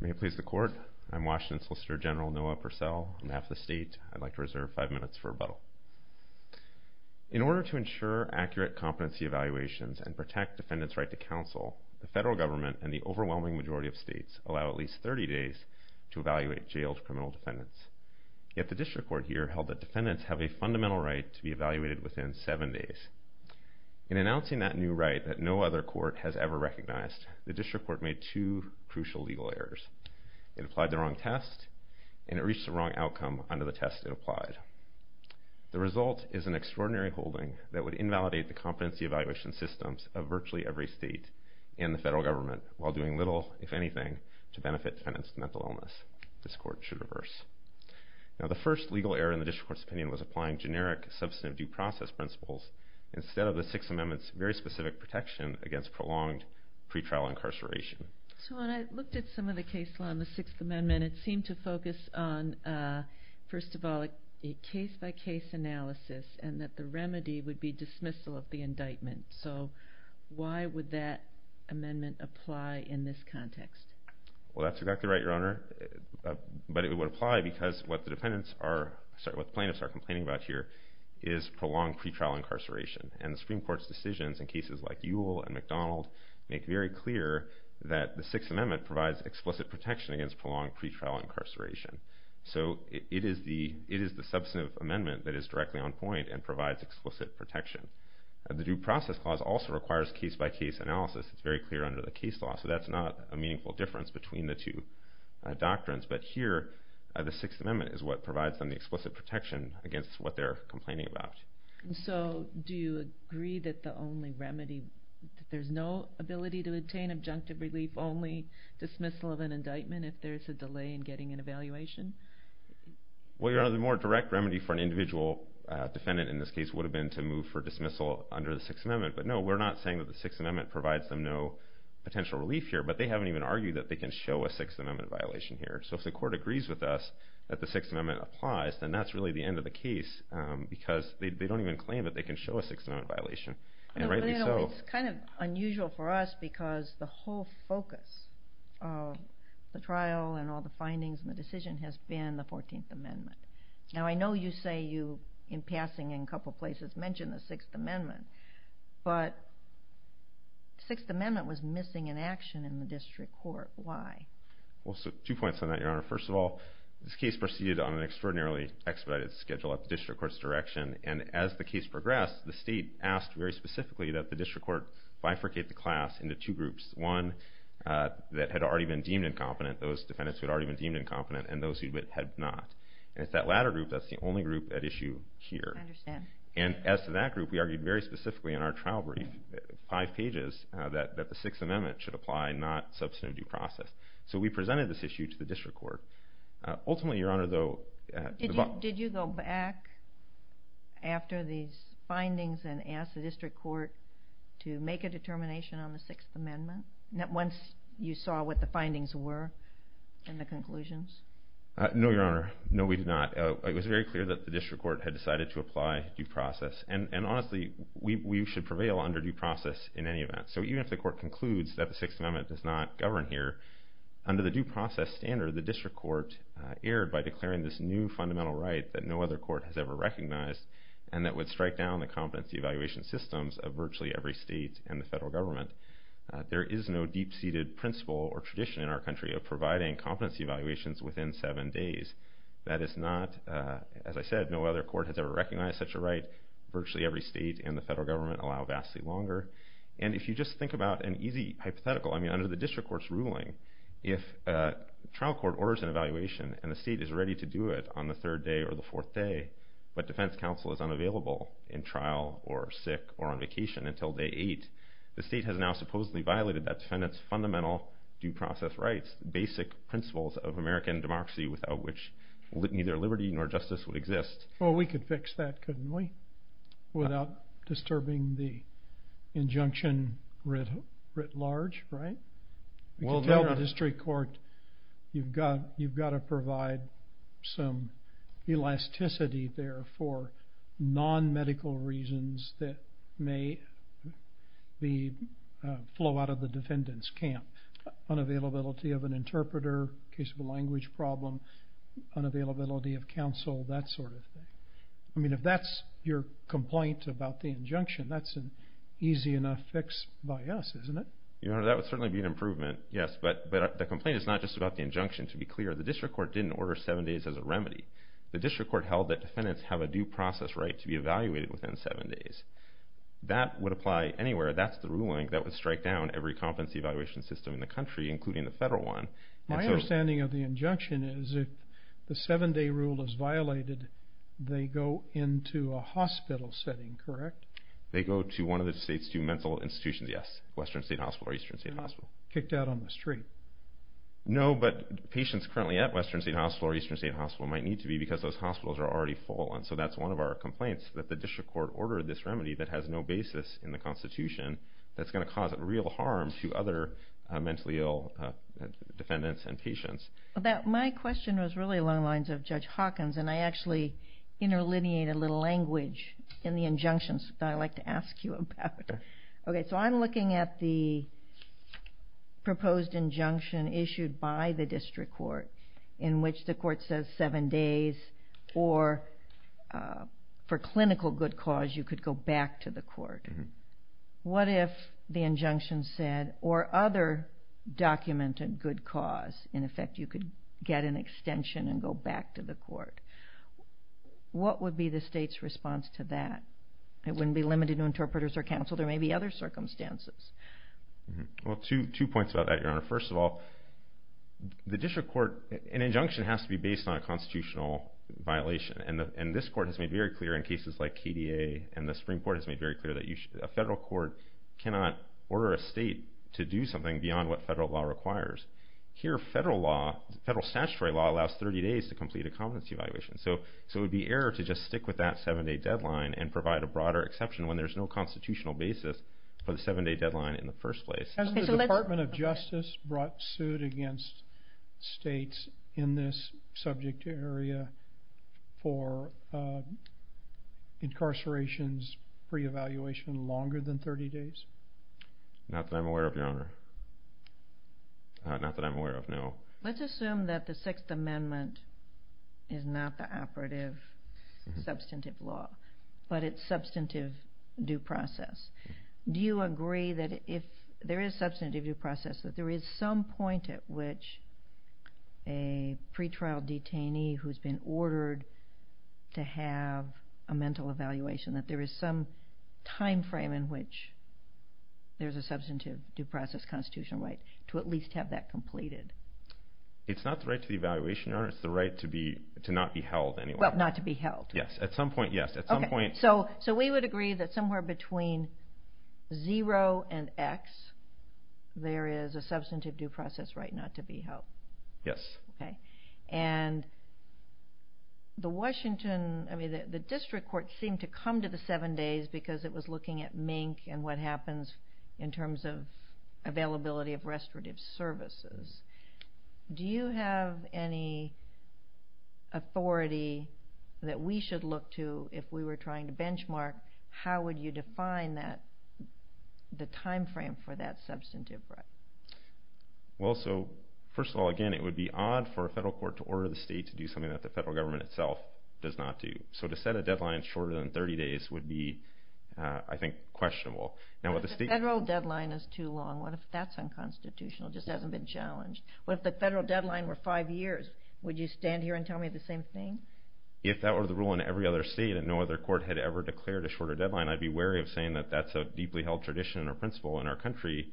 May it please the court. I'm Washington Solicitor General Noah Purcell. On behalf of the state, I'd like to reserve five minutes for rebuttal. In order to ensure accurate competency evaluations and protect defendants' right to counsel, the federal government and the overwhelming majority of states allow at least 30 days to evaluate jailed criminal defendants. Yet the district court here held that defendants have a fundamental right to be evaluated within seven days. In announcing that new right that no other court has ever recognized, the district court made two crucial legal errors. It applied the wrong test and it reached the wrong outcome under the test it applied. The result is an extraordinary holding that would invalidate the competency evaluation systems of virtually every state and the federal government while doing little, if anything, to benefit defendants' mental illness. This court should reverse. Now the first legal error in the district court's opinion was applying generic substantive due process principles instead of the Sixth Amendment's very specific protection against prolonged pretrial incarceration. So when I looked at some of the case law in the Sixth Amendment, it seemed to focus on, first of all, a case-by-case analysis and that the remedy would be dismissal of the indictment. So why would that amendment apply in this context? Well, that's exactly right, Your Honor, but it would apply because what the plaintiffs are complaining about here is prolonged pretrial incarceration and the Supreme Court's decisions in cases like Ewell and McDonald make very clear that the Sixth Amendment provides explicit protection against prolonged pretrial incarceration. So it is the substantive amendment that is directly on point and provides explicit protection. The Due Process Clause also requires case-by-case analysis. It's very clear under the case law, so that's not a meaningful difference between the two doctrines. But here, the Sixth Amendment is what provides them the explicit protection against what they're complaining about. So do you agree that the only remedy, that there's no ability to obtain an adjunctive relief only dismissal of an indictment if there's a delay in getting an evaluation? Well, Your Honor, the more direct remedy for an individual defendant in this case would have been to move for dismissal under the Sixth Amendment. But no, we're not saying that the Sixth Amendment provides them no potential relief here, but they haven't even argued that they can show a Sixth Amendment violation here. So if the Court agrees with us that the Sixth Amendment applies, then that's really the end of the case because they don't even claim that they can show a Sixth Amendment violation. It's kind of unusual for us because the whole focus of the trial and all the findings and the decision has been the Fourteenth Amendment. Now, I know you say you, in passing in a couple of places, mentioned the Sixth Amendment, but the Sixth Amendment was missing in action in the District Court. Why? Well, two points on that, Your Honor. First of all, this case proceeded on an extraordinarily expedited schedule at the District Court's direction, and as the case progressed, the State asked very specifically that the District Court bifurcate the class into two groups, one that had already been deemed incompetent, those defendants who had already been deemed incompetent, and those who had not. And it's that latter group that's the only group at issue here. I understand. And as to that group, we argued very specifically in our trial brief, five pages, that the Sixth Amendment should apply, not substantive due process. So we presented this issue to the District Court. Ultimately, Your Honor, though... Did you go back after these findings and ask the District Court to make a determination on the Sixth Amendment once you saw what the findings were and the conclusions? No, Your Honor. No, we did not. It was very clear that the District Court had decided to apply due process. And honestly, we should prevail under due process in any event. So even if the Court concludes that the Sixth Amendment does not govern here, under the due process standard, the District Court erred by declaring this new fundamental right that no other court has ever recognized and that would strike down the competency evaluation systems of virtually every state and the federal government. There is no deep-seated principle or tradition in our country of providing competency evaluations within seven days. That is not, as I said, no other court has ever recognized such a right. Virtually every state and the federal government allow vastly longer. And if you just think about an easy hypothetical, I mean, under the District Court's ruling, if a trial court orders an evaluation and the state is ready to do it on the third day or the fourth day, but defense counsel is unavailable in trial or sick or on vacation until day eight, the state has now supposedly violated that defendant's fundamental due process rights, basic principles of American democracy without which neither liberty nor justice would exist. Well, we could fix that, couldn't we, without disturbing the injunction writ large, right? We could tell the District Court you've got to provide some elasticity there for non-medical reasons that may flow out of the defendant's camp, unavailability of an interpreter, case of a language problem, unavailability of counsel, that sort of thing. I mean, if that's your complaint about the injunction, that's an easy enough fix by us, isn't it? Your Honor, that would certainly be an improvement, yes. But the complaint is not just about the injunction. To be clear, the District Court didn't order seven days as a remedy. The District Court held that defendants have a due process right to be evaluated within seven days. That would apply anywhere. That's the ruling that would strike down every competency evaluation system in the country, including the federal one. My understanding of the injunction is if the seven-day rule is violated, they go into a hospital setting, correct? They go to one of the state's two mental institutions, yes, Western State Hospital or Eastern State Hospital. They're not kicked out on the street. No, but patients currently at Western State Hospital or Eastern State Hospital might need to be because those hospitals are already full. So that's one of our complaints, that the District Court ordered this remedy that has no basis in the Constitution that's going to cause real harm to other mentally ill defendants and patients. My question was really along the lines of Judge Hawkins, and I actually interlineated a little language in the injunctions that I'd like to ask you about. Okay, so I'm looking at the proposed injunction issued by the District Court in which the court says seven days, or for clinical good cause, you could go back to the court. What if the injunction said, or other documented good cause, in effect you could get an extension and go back to the court? What would be the state's response to that? It wouldn't be limited to interpreters or counsel. There may be other circumstances. Well, two points about that, Your Honor. First of all, the District Court, an injunction has to be based on a constitutional violation, and this court has made very clear in cases like KDA and the Supreme Court has made very clear that a federal court cannot order a state to do something beyond what federal law requires. Here, federal statutory law allows 30 days to complete a competency evaluation. So it would be error to just stick with that seven-day deadline and provide a broader exception when there's no constitutional basis for the seven-day deadline in the first place. Has the Department of Justice brought suit against states in this subject area for incarceration's pre-evaluation longer than 30 days? Not that I'm aware of, Your Honor. Not that I'm aware of, no. Let's assume that the Sixth Amendment is not the operative substantive law, but it's substantive due process. Do you agree that if there is substantive due process, that there is some point at which a pretrial detainee who's been ordered to have a mental evaluation, that there is some time frame in which there's a substantive due process constitutional right to at least have that completed? It's not the right to the evaluation, Your Honor. It's the right to not be held, anyway. Well, not to be held. Yes, at some point, yes. Okay, so we would agree that somewhere between zero and X, there is a substantive due process right not to be held. Yes. Okay. And the Washington, I mean, the district court seemed to come to the seven days because it was looking at MINK and what happens in terms of availability of restorative services. Do you have any authority that we should look to if we were trying to benchmark how would you define the time frame for that substantive right? Well, so first of all, again, it would be odd for a federal court to order the state to do something that the federal government itself does not do. So to set a deadline shorter than 30 days would be, I think, questionable. But if the federal deadline is too long, what if that's unconstitutional? It just hasn't been challenged. What if the federal deadline were five years? Would you stand here and tell me the same thing? If that were the rule in every other state and no other court had ever declared a shorter deadline, I'd be wary of saying that that's a deeply held tradition or principle in our country,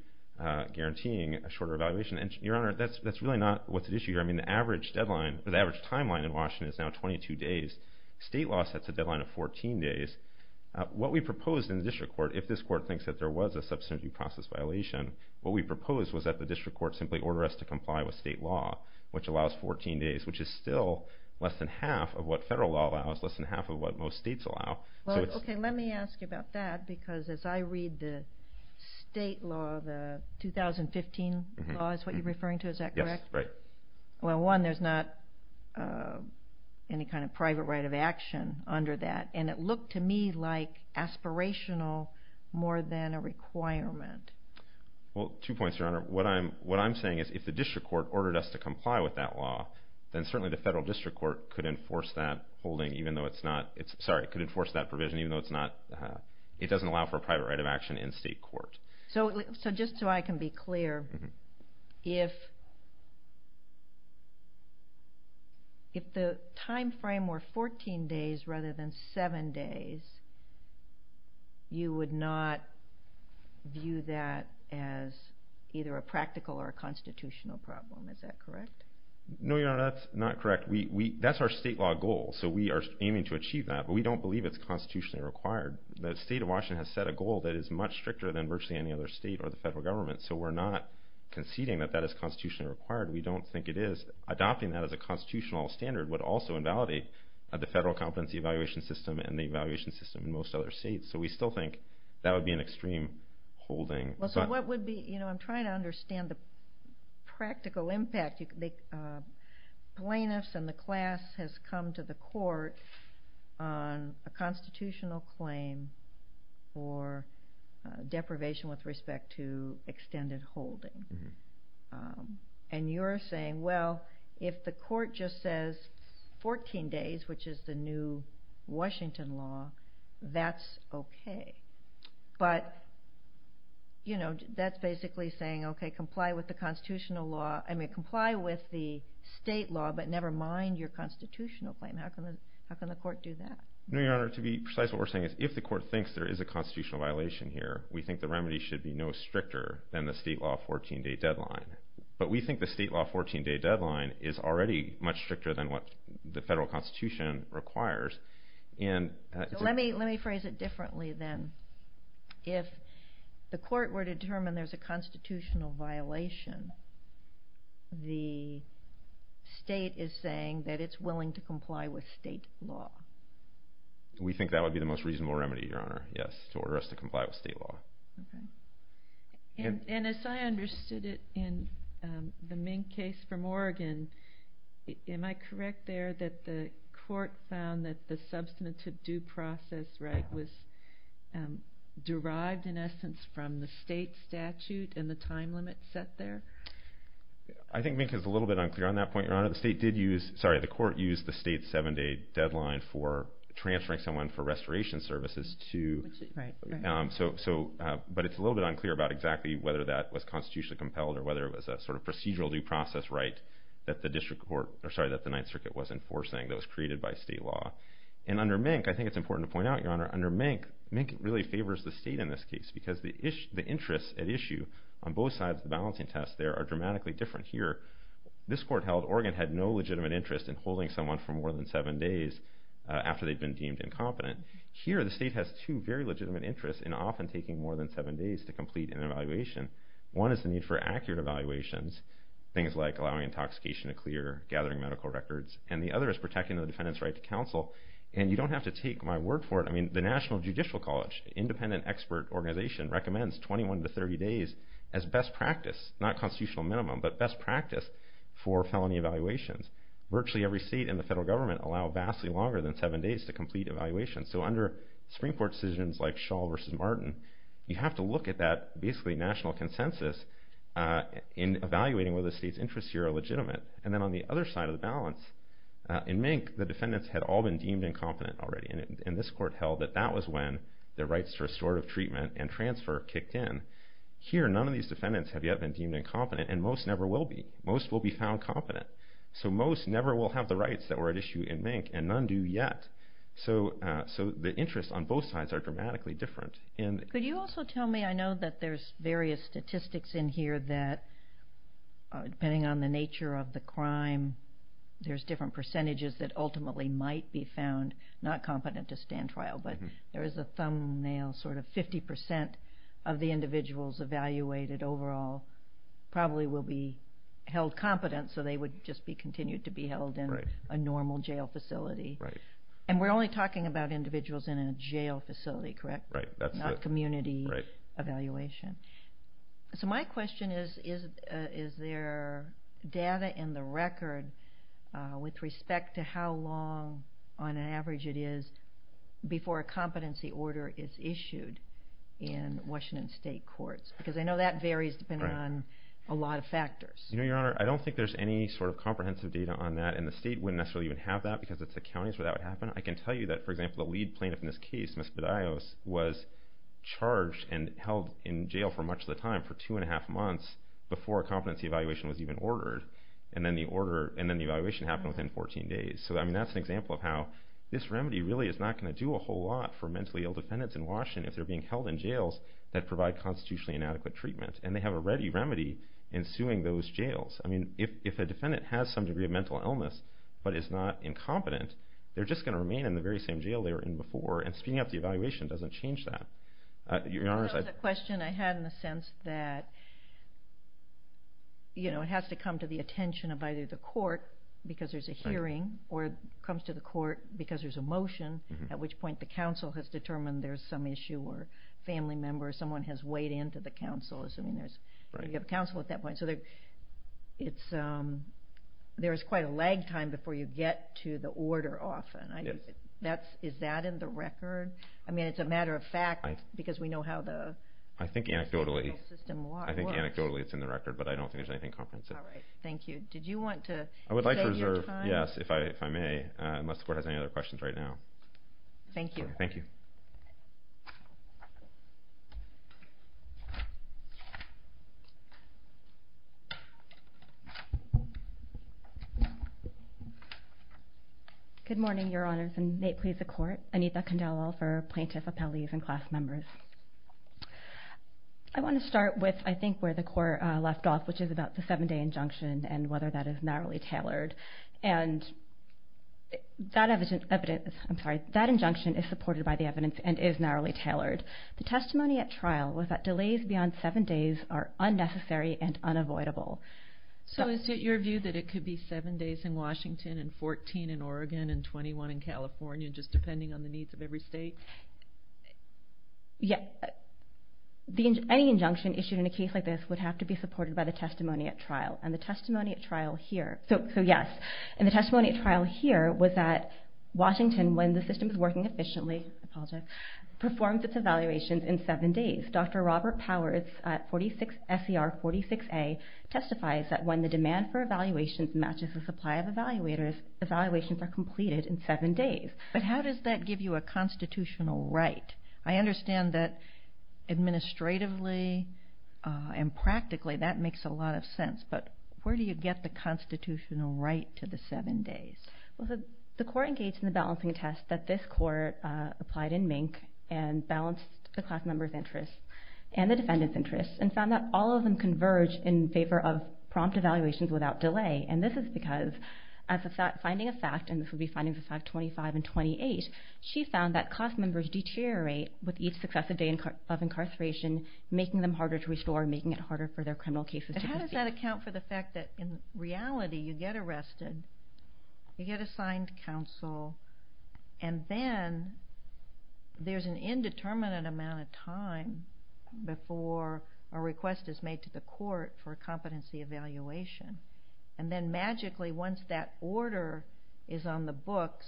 guaranteeing a shorter evaluation. And, Your Honor, that's really not what's at issue here. I mean, the average timeline in Washington is now 22 days. State law sets a deadline of 14 days. What we proposed in the district court, if this court thinks that there was a substantive process violation, what we proposed was that the district court simply order us to comply with state law, which allows 14 days, which is still less than half of what federal law allows, less than half of what most states allow. Okay, let me ask you about that because as I read the state law, the 2015 law is what you're referring to, is that correct? Yes, right. Well, one, there's not any kind of private right of action under that, and it looked to me like aspirational more than a requirement. Well, two points, Your Honor. What I'm saying is if the district court ordered us to comply with that law, then certainly the federal district court could enforce that holding even though it's not. Sorry, it could enforce that provision even though it's not. It doesn't allow for a private right of action in state court. So just so I can be clear, if the time frame were 14 days rather than 7 days, you would not view that as either a practical or a constitutional problem. Is that correct? No, Your Honor, that's not correct. That's our state law goal, so we are aiming to achieve that, but we don't believe it's constitutionally required. The state of Washington has set a goal that is much stricter than virtually any other state or the federal government, so we're not conceding that that is constitutionally required. We don't think it is. Adopting that as a constitutional standard would also invalidate the federal competency evaluation system and the evaluation system in most other states, so we still think that would be an extreme holding. Well, so what would be, you know, I'm trying to understand the practical impact. Plaintiffs and the class has come to the court on a constitutional claim for deprivation with respect to extended holding, and you're saying, well, if the court just says 14 days, which is the new Washington law, that's okay. But, you know, that's basically saying, okay, comply with the constitutional law. I mean, comply with the state law, but never mind your constitutional claim. How can the court do that? No, Your Honor. To be precise, what we're saying is if the court thinks there is a constitutional violation here, we think the remedy should be no stricter than the state law 14-day deadline. But we think the state law 14-day deadline is already much stricter than what the federal constitution requires. So let me phrase it differently then. If the court were to determine there's a constitutional violation, the state is saying that it's willing to comply with state law. We think that would be the most reasonable remedy, Your Honor, yes, to order us to comply with state law. And as I understood it in the Ming case from Oregon, am I correct there that the court found that the substantive due process right was derived in essence from the state statute and the time limit set there? I think Ming is a little bit unclear on that point, Your Honor. The state did use, sorry, the court used the state's 7-day deadline for transferring someone for restoration services to, but it's a little bit unclear about exactly whether that was constitutionally compelled or whether it was a sort of procedural due process right that the district court, or sorry, that the Ninth Circuit was enforcing that was created by state law. And under Ming, I think it's important to point out, Your Honor, under Ming, Ming really favors the state in this case because the interests at issue on both sides of the balancing test there are dramatically different here. This court held Oregon had no legitimate interest in holding someone for more than 7 days after they'd been deemed incompetent. Here the state has two very legitimate interests in often taking more than 7 days to complete an evaluation. One is the need for accurate evaluations, things like allowing intoxication to clear, gathering medical records, and the other is protecting the defendant's right to counsel. And you don't have to take my word for it. I mean, the National Judicial College, independent expert organization, recommends 21 to 30 days as best practice, not constitutional minimum, but best practice for felony evaluations. Virtually every state and the federal government allow vastly longer than 7 days to complete evaluations. So under Supreme Court decisions like Shull v. Martin, you have to look at that basically national consensus in evaluating whether the state's interests here are legitimate. And then on the other side of the balance, in Mink the defendants had all been deemed incompetent already, and this court held that that was when their rights to restorative treatment and transfer kicked in. Here none of these defendants have yet been deemed incompetent, and most never will be. Most will be found competent. So most never will have the rights that were at issue in Mink, and none do yet. So the interests on both sides are dramatically different. Could you also tell me, I know that there's various statistics in here that depending on the nature of the crime, there's different percentages that ultimately might be found not competent to stand trial, but there is a thumbnail sort of 50% of the individuals evaluated overall probably will be held competent, so they would just be continued to be held in a normal jail facility. And we're only talking about individuals in a jail facility, correct? Right, that's it. Not community evaluation. So my question is, is there data in the record with respect to how long on average it is before a competency order is issued in Washington State courts? Because I know that varies depending on a lot of factors. You know, Your Honor, I don't think there's any sort of comprehensive data on that, and the state wouldn't necessarily even have that because it's the counties where that would happen. I can tell you that, for example, the lead plaintiff in this case, Ms. Bedias, was charged and held in jail for much of the time, for two and a half months before a competency evaluation was even ordered, and then the evaluation happened within 14 days. So that's an example of how this remedy really is not going to do a whole lot for mentally ill defendants in Washington if they're being held in jails that provide constitutionally inadequate treatment, and they have a ready remedy in suing those jails. I mean, if a defendant has some degree of mental illness but is not incompetent, they're just going to remain in the very same jail they were in before, and speeding up the evaluation doesn't change that. Your Honor, as I... That was a question I had in the sense that, you know, it has to come to the attention of either the court because there's a hearing or it comes to the court because there's a motion, at which point the counsel has determined there's some issue or a family member or someone has weighed in to the counsel. I mean, you have a counsel at that point. So there's quite a lag time before you get to the order often. Is that in the record? I mean, it's a matter of fact because we know how the legal system works. I think anecdotally it's in the record, but I don't think there's anything comprehensive. All right. Thank you. Did you want to save your time? I would like to reserve, yes, if I may, unless the court has any other questions right now. Thank you. Thank you. Good morning, Your Honors, and may it please the court. Anita Candela for plaintiff appellees and class members. I want to start with, I think, where the court left off, which is about the seven-day injunction and whether that is narrowly tailored. And that evidence, I'm sorry, that injunction is supported by the evidence and is narrowly tailored. The testimony at trial was that delays beyond seven days are unnecessary and unavoidable. So is it your view that it could be seven days in Washington and 14 in Oregon and 21 in California, just depending on the needs of every state? Yes. Any injunction issued in a case like this would have to be supported by the testimony at trial. And the testimony at trial here, so yes, and the testimony at trial here was that when the system is working efficiently, performs its evaluations in seven days. Dr. Robert Powers, SCR 46A, testifies that when the demand for evaluations matches the supply of evaluators, evaluations are completed in seven days. But how does that give you a constitutional right? I understand that administratively and practically that makes a lot of sense, but where do you get the constitutional right to the seven days? Well, the court engaged in the balancing test that this court applied in MNC and balanced the class members' interests and the defendants' interests and found that all of them converged in favor of prompt evaluations without delay. And this is because as a finding of fact, and this would be findings of fact 25 and 28, she found that class members deteriorate with each successive day of incarceration, making them harder to restore, making it harder for their criminal cases to proceed. Does that account for the fact that in reality, you get arrested, you get assigned counsel, and then there's an indeterminate amount of time before a request is made to the court for a competency evaluation. And then magically, once that order is on the books,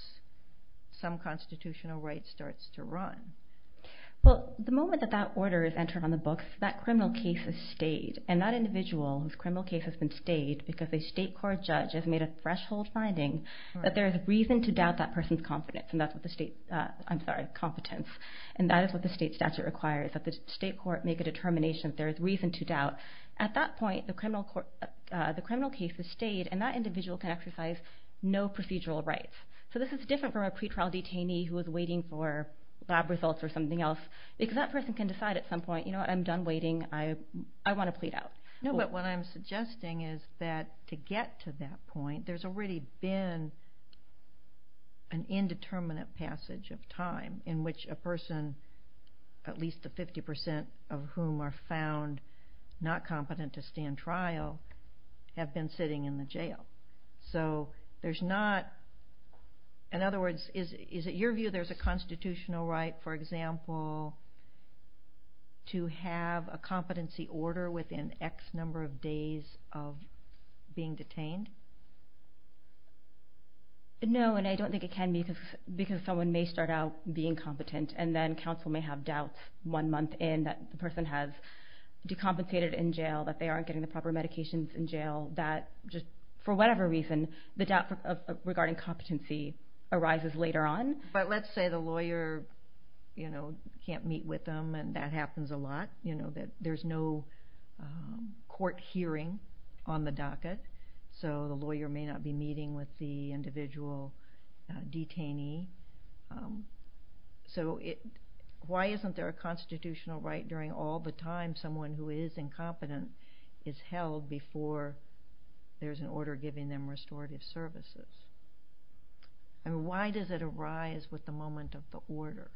some constitutional right starts to run. Well, the moment that that order is entered on the books, that criminal case is stayed, and that individual whose criminal case has been stayed because a state court judge has made a threshold finding that there is reason to doubt that person's competence. And that is what the state statute requires, that the state court make a determination that there is reason to doubt. At that point, the criminal case is stayed, and that individual can exercise no procedural rights. So this is different from a pretrial detainee who is waiting for lab results or something else, because that person can decide at some point, you know what, I'm done waiting, I want to plead out. No, but what I'm suggesting is that to get to that point, there's already been an indeterminate passage of time in which a person, at least the 50% of whom are found not competent to stand trial, have been sitting in the jail. So there's not... In other words, is it your view there's a constitutional right, for example, to have a competency order within X number of days of being detained? No, and I don't think it can be, because someone may start out being competent, and then counsel may have doubts one month in that the person has decompensated in jail, that they aren't getting the proper medications in jail, that just for whatever reason, the doubt regarding competency arises later on. But let's say the lawyer can't meet with them, and that happens a lot, that there's no court hearing on the docket, so the lawyer may not be meeting with the individual detainee. So why isn't there a constitutional right during all the time someone who is incompetent is held before there's an order giving them restorative services? And why does it arise with the moment of the order?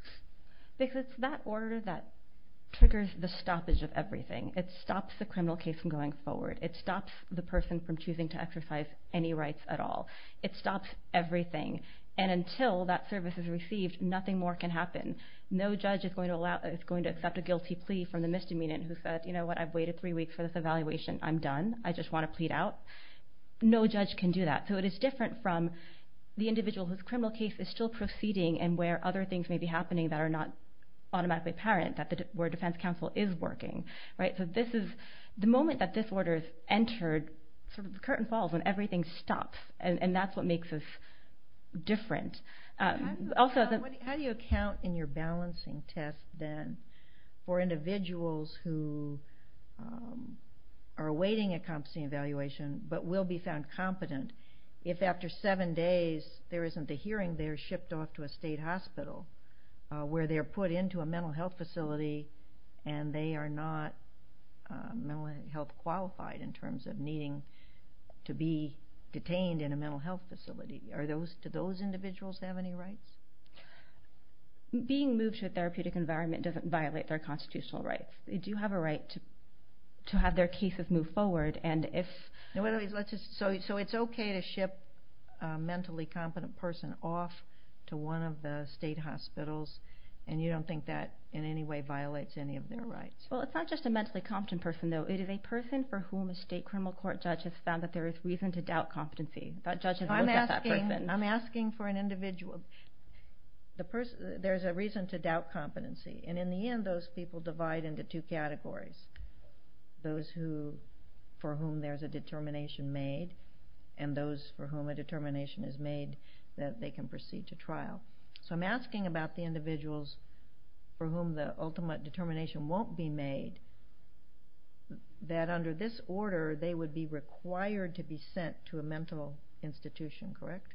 Because it's that order that triggers the stoppage of everything. It stops the criminal case from going forward. It stops the person from choosing to exercise any rights at all. It stops everything. And until that service is received, nothing more can happen. No judge is going to accept a guilty plea from the misdemeanant who says, you know what, I've waited three weeks for this evaluation, I'm done, I just want to plead out. No judge can do that. So it is different from the individual whose criminal case is still proceeding and where other things may be happening that are not automatically apparent, where defense counsel is working. So the moment that this order is entered, the curtain falls and everything stops, and that's what makes us different. How do you account in your balancing test, then, for individuals who are awaiting a competency evaluation but will be found competent if after seven days there isn't a hearing, they're shipped off to a state hospital where they're put into a mental health facility and they are not mental health qualified in terms of needing to be detained in a mental health facility? Do those individuals have any rights? Being moved to a therapeutic environment doesn't violate their constitutional rights. They do have a right to have their case move forward, So it's okay to ship a mentally competent person off to one of the state hospitals and you don't think that in any way violates any of their rights? Well, it's not just a mentally competent person, though. It is a person for whom a state criminal court judge has found that there is reason to doubt competency. That judge has looked at that person. I'm asking for an individual. There's a reason to doubt competency, and in the end those people divide into two categories. Those for whom there's a determination made and those for whom a determination is made that they can proceed to trial. So I'm asking about the individuals for whom the ultimate determination won't be made that under this order they would be required to be sent to a mental institution, correct?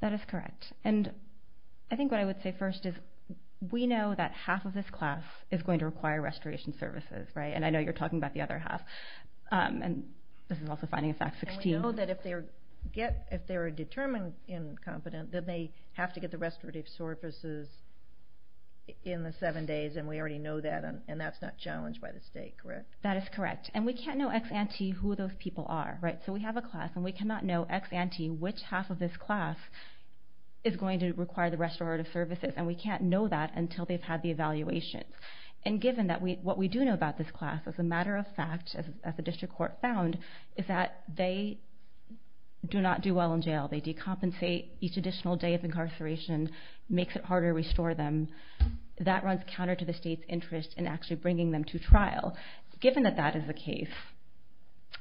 That is correct, and I think what I would say first is we know that half of this class is going to require restoration services, right? And I know you're talking about the other half, and this is also finding of fact 16. And we know that if they're determined incompetent, then they have to get the restorative services in the seven days, and we already know that, and that's not challenged by the state, correct? That is correct, and we can't know ex-ante who those people are, right? So we have a class, and we cannot know ex-ante which half of this class is going to require the restorative services, and we can't know that until they've had the evaluation. And given that what we do know about this class, as a matter of fact, as the district court found, is that they do not do well in jail. They decompensate each additional day of incarceration, makes it harder to restore them. That runs counter to the state's interest in actually bringing them to trial. Given that that is the case,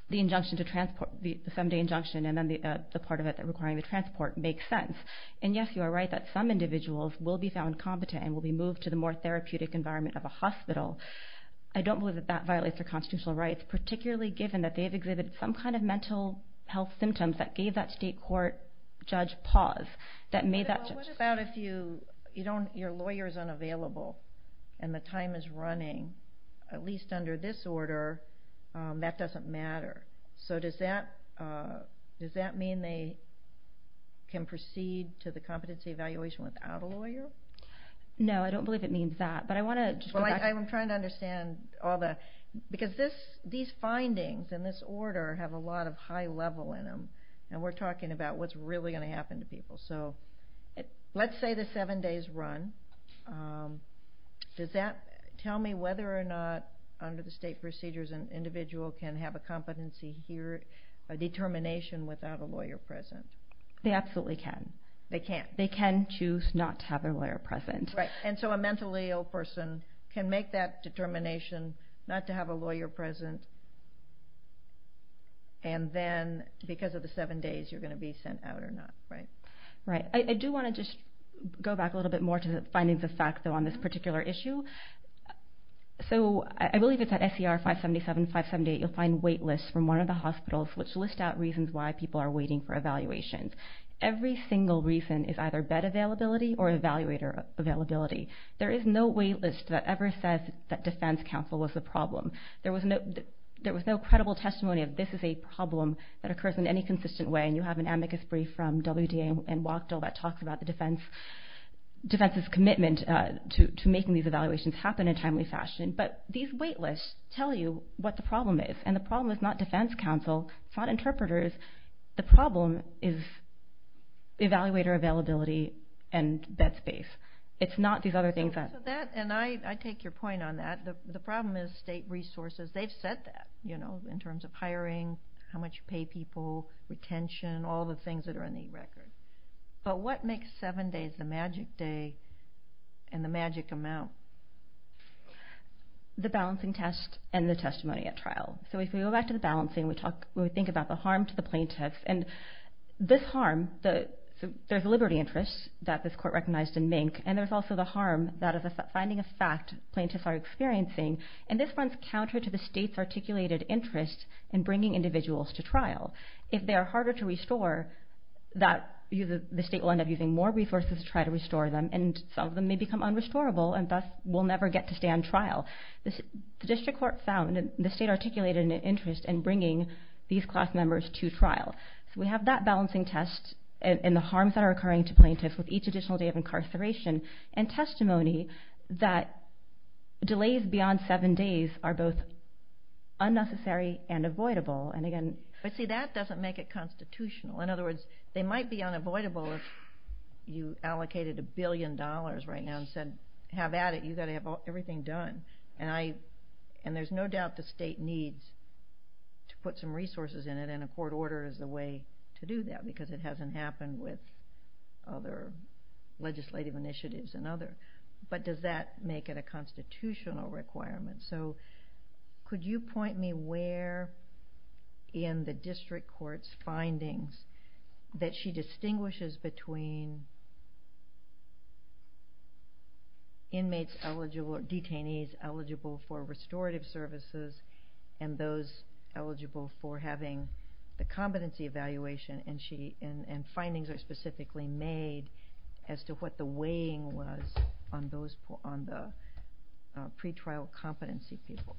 the injunction to transport, the seven-day injunction and then the part of it requiring the transport makes sense. And yes, you are right that some individuals will be found competent and will be moved to the more therapeutic environment of a hospital. I don't believe that that violates their constitutional rights, particularly given that they have exhibited some kind of mental health symptoms that gave that state court judge pause. What about if your lawyer is unavailable and the time is running, at least under this order, that doesn't matter? So does that mean they can proceed to the competency evaluation without a lawyer? No, I don't believe it means that. I'm trying to understand all that. Because these findings in this order have a lot of high level in them, and we're talking about what's really going to happen to people. So let's say the seven days run. Does that tell me whether or not, under the state procedures, an individual can have a competency here, a determination without a lawyer present? They absolutely can. They can't? They can choose not to have a lawyer present. Right, and so a mentally ill person can make that determination not to have a lawyer present, and then because of the seven days you're going to be sent out or not, right? Right. I do want to just go back a little bit more to the findings of fact, though, on this particular issue. So I believe it's at SCR 577, 578, you'll find wait lists from one of the hospitals which list out reasons why people are waiting for evaluations. Every single reason is either bed availability or evaluator availability. There is no wait list that ever says that defense counsel was the problem. There was no credible testimony of this is a problem that occurs in any consistent way, and you have an amicus brief from WDA and WACDA that talks about the defense's commitment to making these evaluations happen in a timely fashion, but these wait lists tell you what the problem is, and the problem is not defense counsel, it's not interpreters. The problem is evaluator availability and bed space. It's not these other things. And I take your point on that. The problem is state resources. They've said that, you know, in terms of hiring, how much you pay people, retention, all the things that are in the record. But what makes seven days the magic day and the magic amount? The balancing test and the testimony at trial. So if we go back to the balancing, we think about the harm to the plaintiffs, and this harm, there's a liberty interest that this court recognized in Mink, and there's also the harm that is a finding of fact plaintiffs are experiencing, and this runs counter to the state's articulated interest in bringing individuals to trial. If they are harder to restore, the state will end up using more resources to try to restore them, and some of them may become unrestorable and thus will never get to stand trial. The district court found that the state articulated an interest in bringing these class members to trial. So we have that balancing test and the harms that are occurring to plaintiffs with each additional day of incarceration and testimony that delays beyond seven days are both unnecessary and avoidable. But see, that doesn't make it constitutional. In other words, they might be unavoidable if you allocated a billion dollars right now and said, have at it, you've got to have everything done. And there's no doubt the state needs to put some resources in it, and a court order is the way to do that because it hasn't happened with other legislative initiatives. But does that make it a constitutional requirement? So could you point me where in the district court's findings that she distinguishes between inmates eligible, or detainees eligible for restorative services and those eligible for having the competency evaluation, and findings are specifically made as to what the weighing was on the pretrial competency people?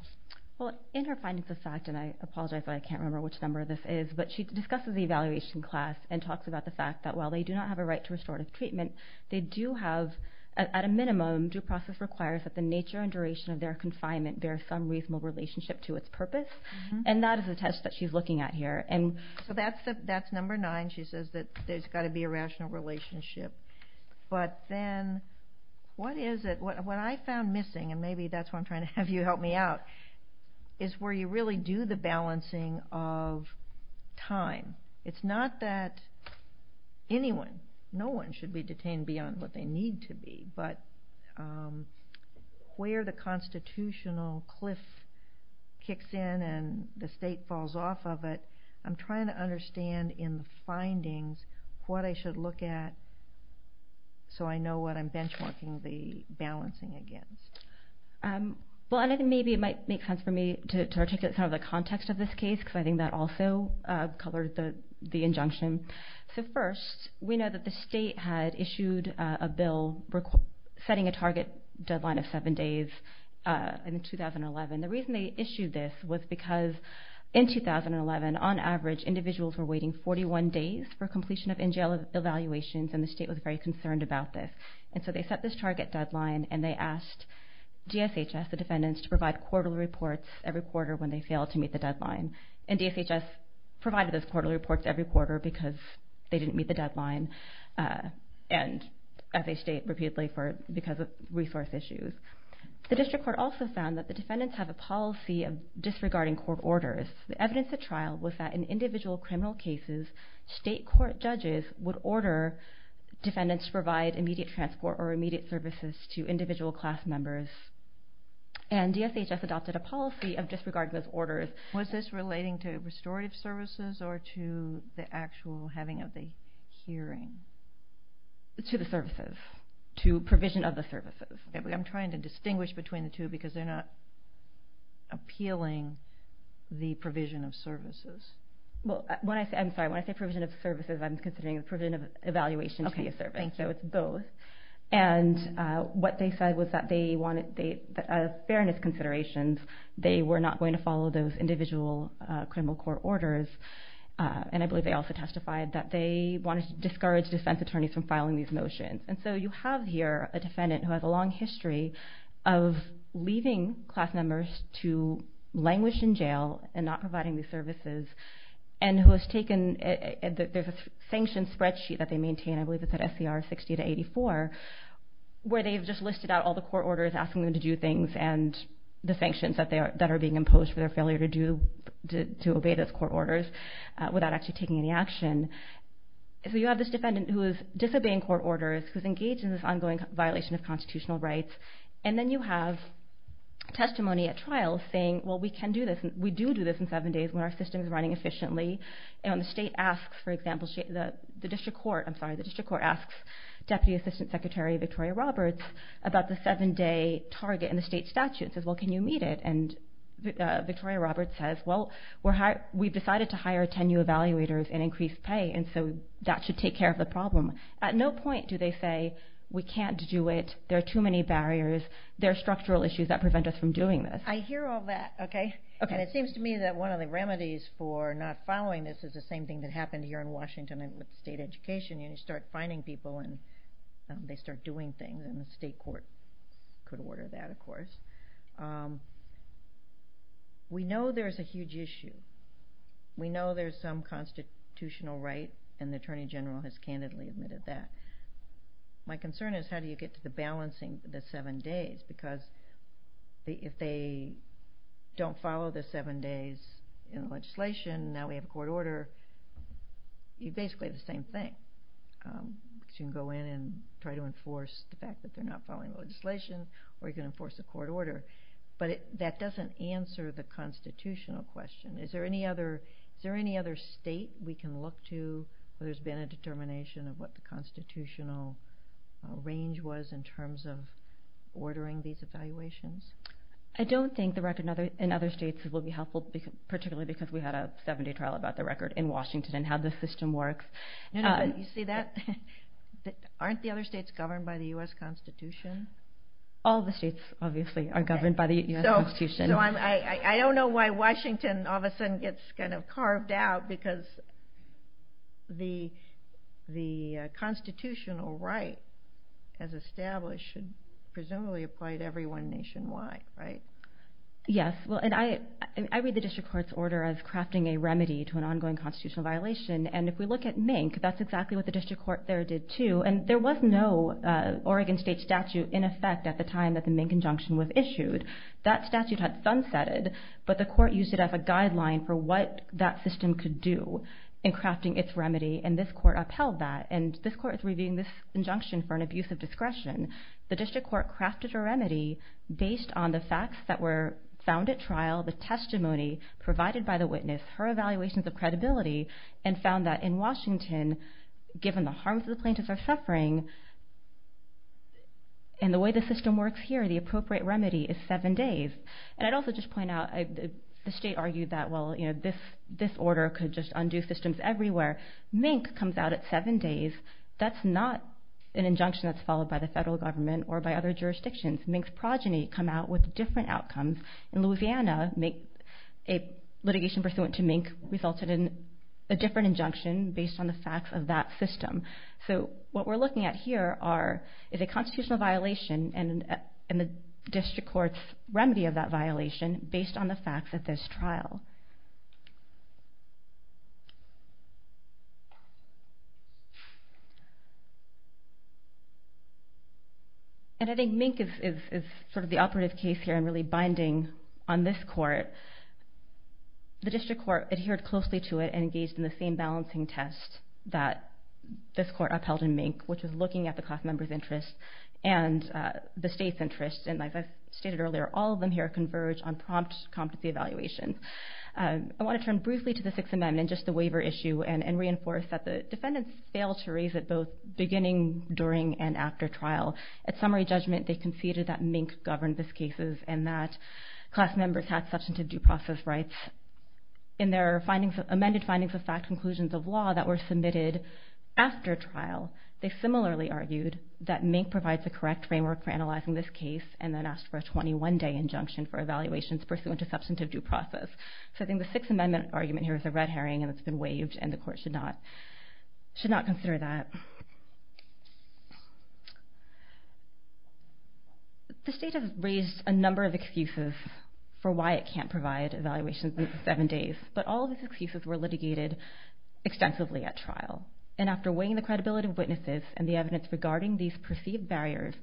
Well, in her findings of fact, and I apologize, but I can't remember which number this is, but she discusses the evaluation class and talks about the fact that while they do not have a right to restorative treatment, they do have, at a minimum, due process requires that the nature and duration of their confinement bear some reasonable relationship to its purpose, and that is the test that she's looking at here. So that's number nine. She says that there's got to be a rational relationship. But then what is it, what I found missing, and maybe that's why I'm trying to have you help me out, is where you really do the balancing of time. It's not that anyone, no one should be detained beyond what they need to be, but where the constitutional cliff kicks in and the state falls off of it, I'm trying to understand in the findings what I should look at so I know what I'm benchmarking the balancing against. Well, and I think maybe it might make sense for me to articulate some of the context of this case because I think that also colored the injunction. So first, we know that the state had issued a bill setting a target deadline of seven days in 2011. The reason they issued this was because in 2011, on average, individuals were waiting 41 days for completion of NJL evaluations, and the state was very concerned about this. And so they set this target deadline, and they asked DSHS, the defendants, to provide quarterly reports every quarter when they failed to meet the deadline. And DSHS provided those quarterly reports every quarter because they didn't meet the deadline, and as they state repeatedly, because of resource issues. The district court also found that the defendants have a policy of disregarding court orders. The evidence at trial was that in individual criminal cases, state court judges would order defendants to provide immediate transport or immediate services to individual class members. And DSHS adopted a policy of disregarding those orders. Was this relating to restorative services or to the actual having of the hearing? To the services, to provision of the services. I'm trying to distinguish between the two because they're not appealing the provision of services. Well, when I say provision of services, I'm considering the provision of evaluation to be a service. So it's both. And what they said was that they wanted fairness considerations. They were not going to follow those individual criminal court orders, and I believe they also testified that they wanted to discourage defense attorneys from filing these motions. And so you have here a defendant who has a long history of leaving class members to languish in jail and not providing these services, and who has taken a sanction spreadsheet that they maintain, I believe it's at SCR 60-84, where they've just listed out all the court orders, asking them to do things, and the sanctions that are being imposed for their failure to obey those court orders without actually taking any action. So you have this defendant who is disobeying court orders, who's engaged in this ongoing violation of constitutional rights, and then you have testimony at trial saying, well, we do do this in seven days when our system is running efficiently. And when the state asks, for example, the district court, I'm sorry, the district court asks Deputy Assistant Secretary Victoria Roberts about the seven-day target in the state statute, it says, well, can you meet it? And Victoria Roberts says, well, we've decided to hire 10 new evaluators and increase pay, and so that should take care of the problem. At no point do they say, we can't do it, there are too many barriers, there are structural issues that prevent us from doing this. I hear all that. And it seems to me that one of the remedies for not following this is the same thing that happened here in Washington with state education. You start finding people and they start doing things, and the state court could order that, of course. We know there's a huge issue. We know there's some constitutional right, and the Attorney General has candidly admitted that. My concern is how do you get to the balancing of the seven days, because if they don't follow the seven days in legislation, now we have a court order, you basically have the same thing. You can go in and try to enforce the fact that they're not following the legislation, or you can enforce a court order, but that doesn't answer the constitutional question. Is there any other state we can look to where there's been a determination of what the constitutional range was in terms of ordering these evaluations? I don't think the record in other states will be helpful, particularly because we had a seven-day trial about the record in Washington and how the system works. You see that? Aren't the other states governed by the U.S. Constitution? I don't know why Washington all of a sudden gets kind of carved out, because the constitutional right as established should presumably apply to everyone nationwide, right? Yes. I read the district court's order as crafting a remedy to an ongoing constitutional violation, and if we look at Mink, that's exactly what the district court there did too. There was no Oregon state statute in effect at the time that the Mink injunction was issued. That statute had sunsetted, but the court used it as a guideline for what that system could do in crafting its remedy, and this court upheld that. This court is reviewing this injunction for an abuse of discretion. The district court crafted a remedy based on the facts that were found at trial, the testimony provided by the witness, her evaluations of credibility, and found that in Washington, given the harms the plaintiffs are suffering and the way the system works here, the appropriate remedy is seven days. I'd also just point out the state argued that, well, this order could just undo systems everywhere. Mink comes out at seven days. That's not an injunction that's followed by the federal government or by other jurisdictions. Mink's progeny come out with different outcomes. In Louisiana, a litigation pursuant to Mink resulted in a different injunction based on the facts of that system. What we're looking at here is a constitutional violation and the district court's remedy of that violation based on the facts at this trial. I think Mink is sort of the operative case here and really binding on this court. The district court adhered closely to it and engaged in the same balancing test that this court upheld in Mink, which was looking at the class member's interest and the state's interest. As I stated earlier, all of them here converge on prompt competency evaluation. I want to turn briefly to the Sixth Amendment and just the waiver issue and reinforce that the defendants failed to raise it both beginning, during, and after trial. At summary judgment, they conceded that Mink governed this case and that class members had substantive due process rights. In their amended findings of fact conclusions of law that were submitted after trial, they similarly argued that Mink provides the correct framework for analyzing this case and then asked for a 21-day injunction for evaluations pursuant to substantive due process. I think the Sixth Amendment argument here is a red herring and it's been waived and the court should not consider that. The state has raised a number of excuses for why it can't provide evaluations within seven days, but all of these excuses were litigated extensively at trial. After weighing the credibility of witnesses and the evidence regarding these perceived barriers,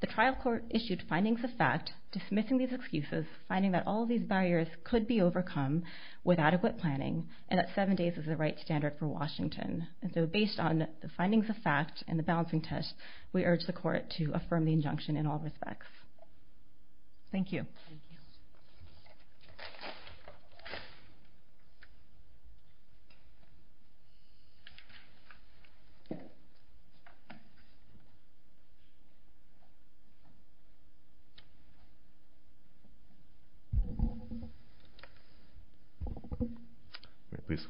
the trial court issued findings of fact, dismissing these excuses, finding that all of these barriers could be overcome with adequate planning and that seven days is the right standard for Washington. Based on the findings of fact and the balancing test, we urge the court to affirm the injunction in all respects. Thank you.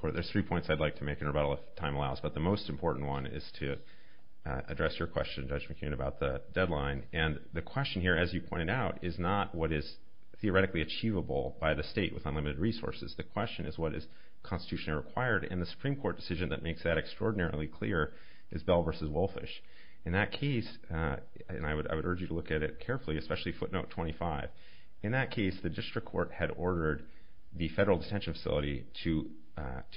There's three points I'd like to make in rebuttal if time allows, but the most important one is to address your question, Judge McKeon, about the deadline and the question here, as you pointed out, is not what is theoretically achievable by the state with unlimited resources. The question is what is constitutionally required and the Supreme Court decision that makes that extraordinarily clear is Bell v. Wolfish. In that case, and I would urge you to look at it carefully, especially footnote 25, in that case the district court had ordered the federal detention facility to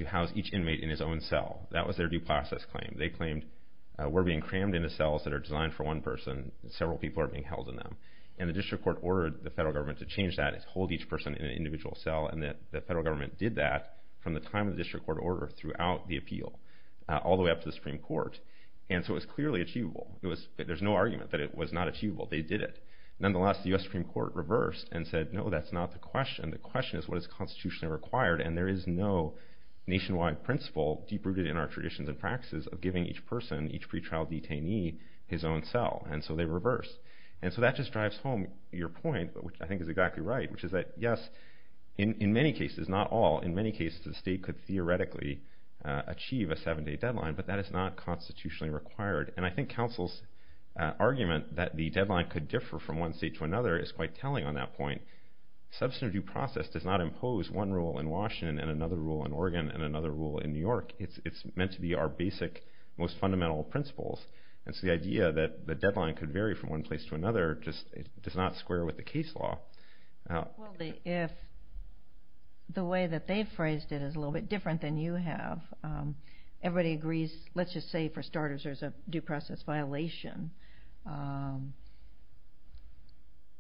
house each inmate in his own cell. That was their due process claim. They claimed we're being crammed into cells that are designed for one person, and several people are being held in them. And the district court ordered the federal government to change that, to hold each person in an individual cell, and the federal government did that from the time the district court ordered throughout the appeal all the way up to the Supreme Court. And so it was clearly achievable. There's no argument that it was not achievable. They did it. Nonetheless, the U.S. Supreme Court reversed and said, no, that's not the question. The question is what is constitutionally required, and there is no nationwide principle deep-rooted in our traditions and practices of giving each person, each pretrial detainee, his own cell. And so they reversed. And so that just drives home your point, which I think is exactly right, which is that, yes, in many cases, not all, in many cases the state could theoretically achieve a seven-day deadline, but that is not constitutionally required. And I think counsel's argument that the deadline could differ from one state to another is quite telling on that point. Substantive due process does not impose one rule in Washington and another rule in Oregon and another rule in New York. It's meant to be our basic, most fundamental principles. And so the idea that the deadline could vary from one place to another does not square with the case law. Well, if the way that they phrased it is a little bit different than you have, everybody agrees, let's just say for starters there's a due process violation,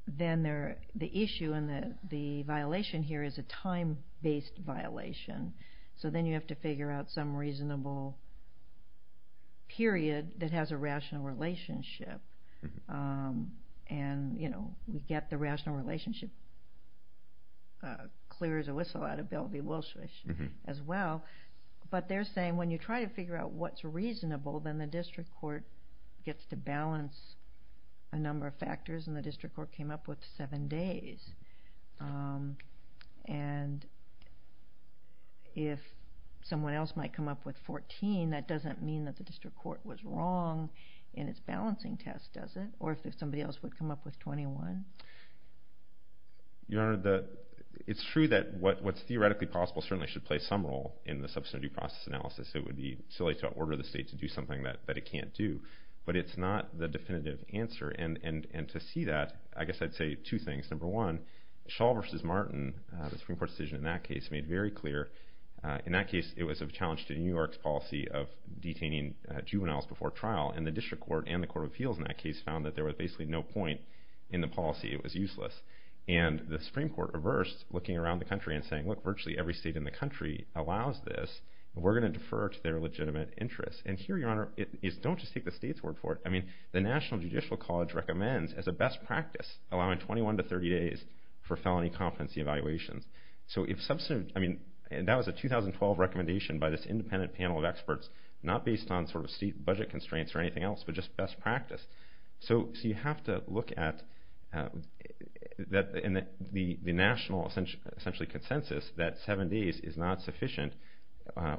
then the issue and the violation here is a time-based violation. So then you have to figure out some reasonable period that has a rational relationship. And, you know, we get the rational relationship clear as a whistle out of Bellevue-Wilsh as well. But they're saying when you try to figure out what's reasonable, then the district court gets to balance a number of factors, and the district court came up with seven days. And if someone else might come up with 14, that doesn't mean that the district court was wrong in its balancing test, does it? Or if somebody else would come up with 21? Your Honor, it's true that what's theoretically possible certainly should play some role in the substantive due process analysis. It would be silly to order the state to do something that it can't do. But it's not the definitive answer. And to see that, I guess I'd say two things. Number one, Shaw v. Martin, the Supreme Court decision in that case, made very clear in that case it was a challenge to New York's policy of detaining juveniles before trial. And the district court and the court of appeals in that case found that there was basically no point in the policy. It was useless. And the Supreme Court reversed, looking around the country and saying, look, virtually every state in the country allows this. We're going to defer to their legitimate interests. And here, Your Honor, is don't just take the state's word for it. I mean, the National Judicial College recommends as a best practice allowing 21 to 30 days for felony competency evaluations. So if substantive, I mean, that was a 2012 recommendation by this independent panel of experts, not based on sort of state budget constraints or anything else, but just best practice. So you have to look at the national essentially consensus that seven days is not sufficient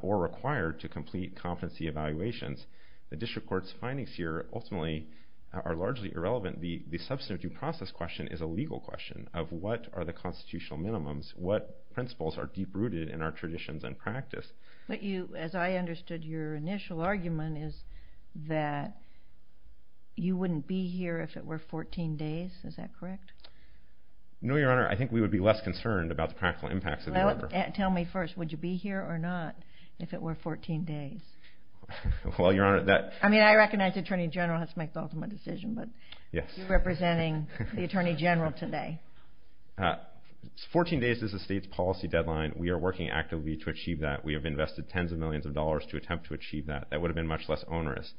or required to complete competency evaluations. The district court's findings here ultimately are largely irrelevant. The substantive due process question is a legal question of what are the constitutional minimums, what principles are deep-rooted in our traditions and practice. But you, as I understood your initial argument, is that you wouldn't be here if it were 14 days. Is that correct? No, Your Honor. I think we would be less concerned about the practical impacts of the order. Tell me first, would you be here or not if it were 14 days? Well, Your Honor, that... I mean, I recognize the Attorney General has to make the ultimate decision, but you representing the Attorney General today. 14 days is the state's policy deadline. We are working actively to achieve that. We have invested tens of millions of dollars to attempt to achieve that. That would have been much less onerous.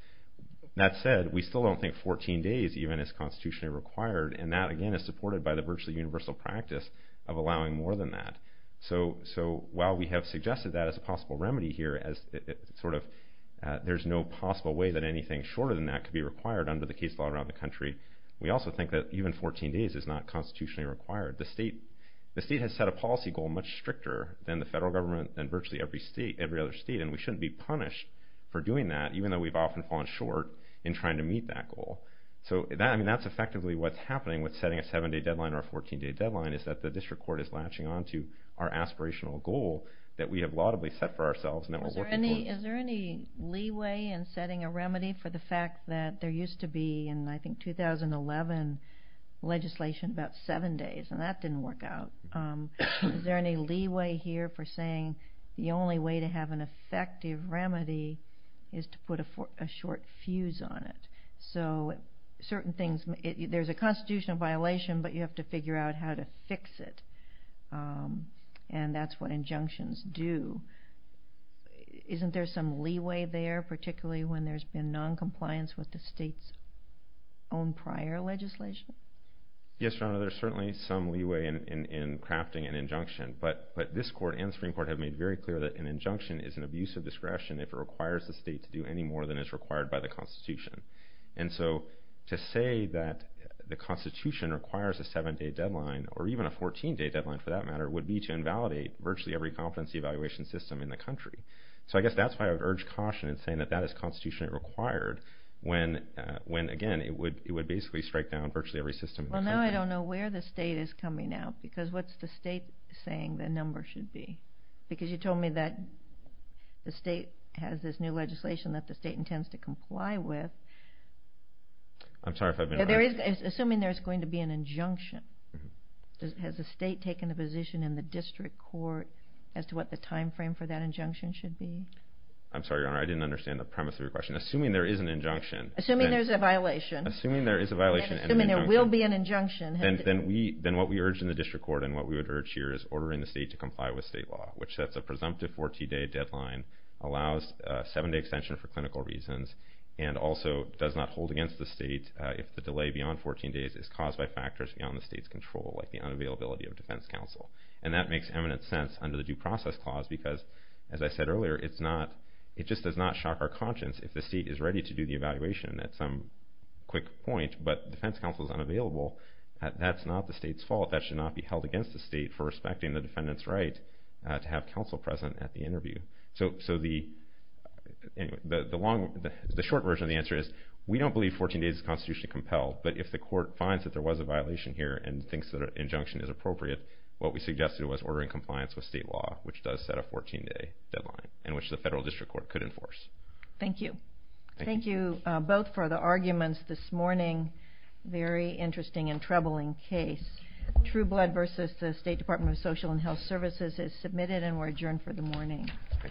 That said, we still don't think 14 days even is constitutionally required, and that, again, is supported by the virtually universal practice of allowing more than that. So while we have suggested that as a possible remedy here, as sort of there's no possible way that anything shorter than that could be required under the case law around the country, we also think that even 14 days is not constitutionally required. The state has set a policy goal much stricter than the federal government and virtually every other state, and we shouldn't be punished for doing that, even though we've often fallen short in trying to meet that goal. So, I mean, that's effectively what's happening with setting a 7-day deadline or a 14-day deadline, is that the district court is latching on to our aspirational goal that we have laudably set for ourselves and that we're working for. Is there any leeway in setting a remedy for the fact that there used to be in, I think, 2011 legislation about 7 days, and that didn't work out? Is there any leeway here for saying the only way to have an effective remedy is to put a short fuse on it? So certain things, there's a constitutional violation, but you have to figure out how to fix it, and that's what injunctions do. Isn't there some leeway there, particularly when there's been noncompliance with the state's own prior legislation? Yes, Your Honor, there's certainly some leeway in crafting an injunction, but this court and the Supreme Court have made very clear that an injunction is an abuse of discretion if it requires the state to do any more than is required by the Constitution. And so to say that the Constitution requires a 7-day deadline or even a 14-day deadline, for that matter, would be to invalidate virtually every competency evaluation system in the country. So I guess that's why I would urge caution in saying that that is constitutionally required when, again, it would basically strike down virtually every system in the country. Well, now I don't know where the state is coming out because what's the state saying the number should be? Because you told me that the state has this new legislation that the state intends to comply with. I'm sorry if I've been wrong. Assuming there's going to be an injunction, has the state taken a position in the district court as to what the time frame for that injunction should be? I'm sorry, Your Honor, I didn't understand the premise of your question. Assuming there is an injunction. Assuming there's a violation. Assuming there is a violation. Assuming there will be an injunction. Then what we urge in the district court and what we would urge here is ordering the state to comply with state law, which sets a presumptive 14-day deadline, allows 7-day extension for clinical reasons, and also does not hold against the state if the delay beyond 14 days is caused by factors beyond the state's control, like the unavailability of defense counsel. And that makes eminent sense under the Due Process Clause because, as I said earlier, it just does not shock our conscience if the state is ready to do the evaluation at some quick point, but defense counsel is unavailable, that's not the state's fault. That should not be held against the state for respecting the defendant's right to have counsel present at the interview. So the short version of the answer is we don't believe 14 days is constitutionally compelled, but if the court finds that there was a violation here and thinks that an injunction is appropriate, what we suggested was ordering compliance with state law, which does set a 14-day deadline and which the federal district court could enforce. Thank you. Thank you both for the arguments this morning. Very interesting and troubling case. True Blood versus the State Department of Social and Health Services is submitted and we're adjourned for the morning. Thank you.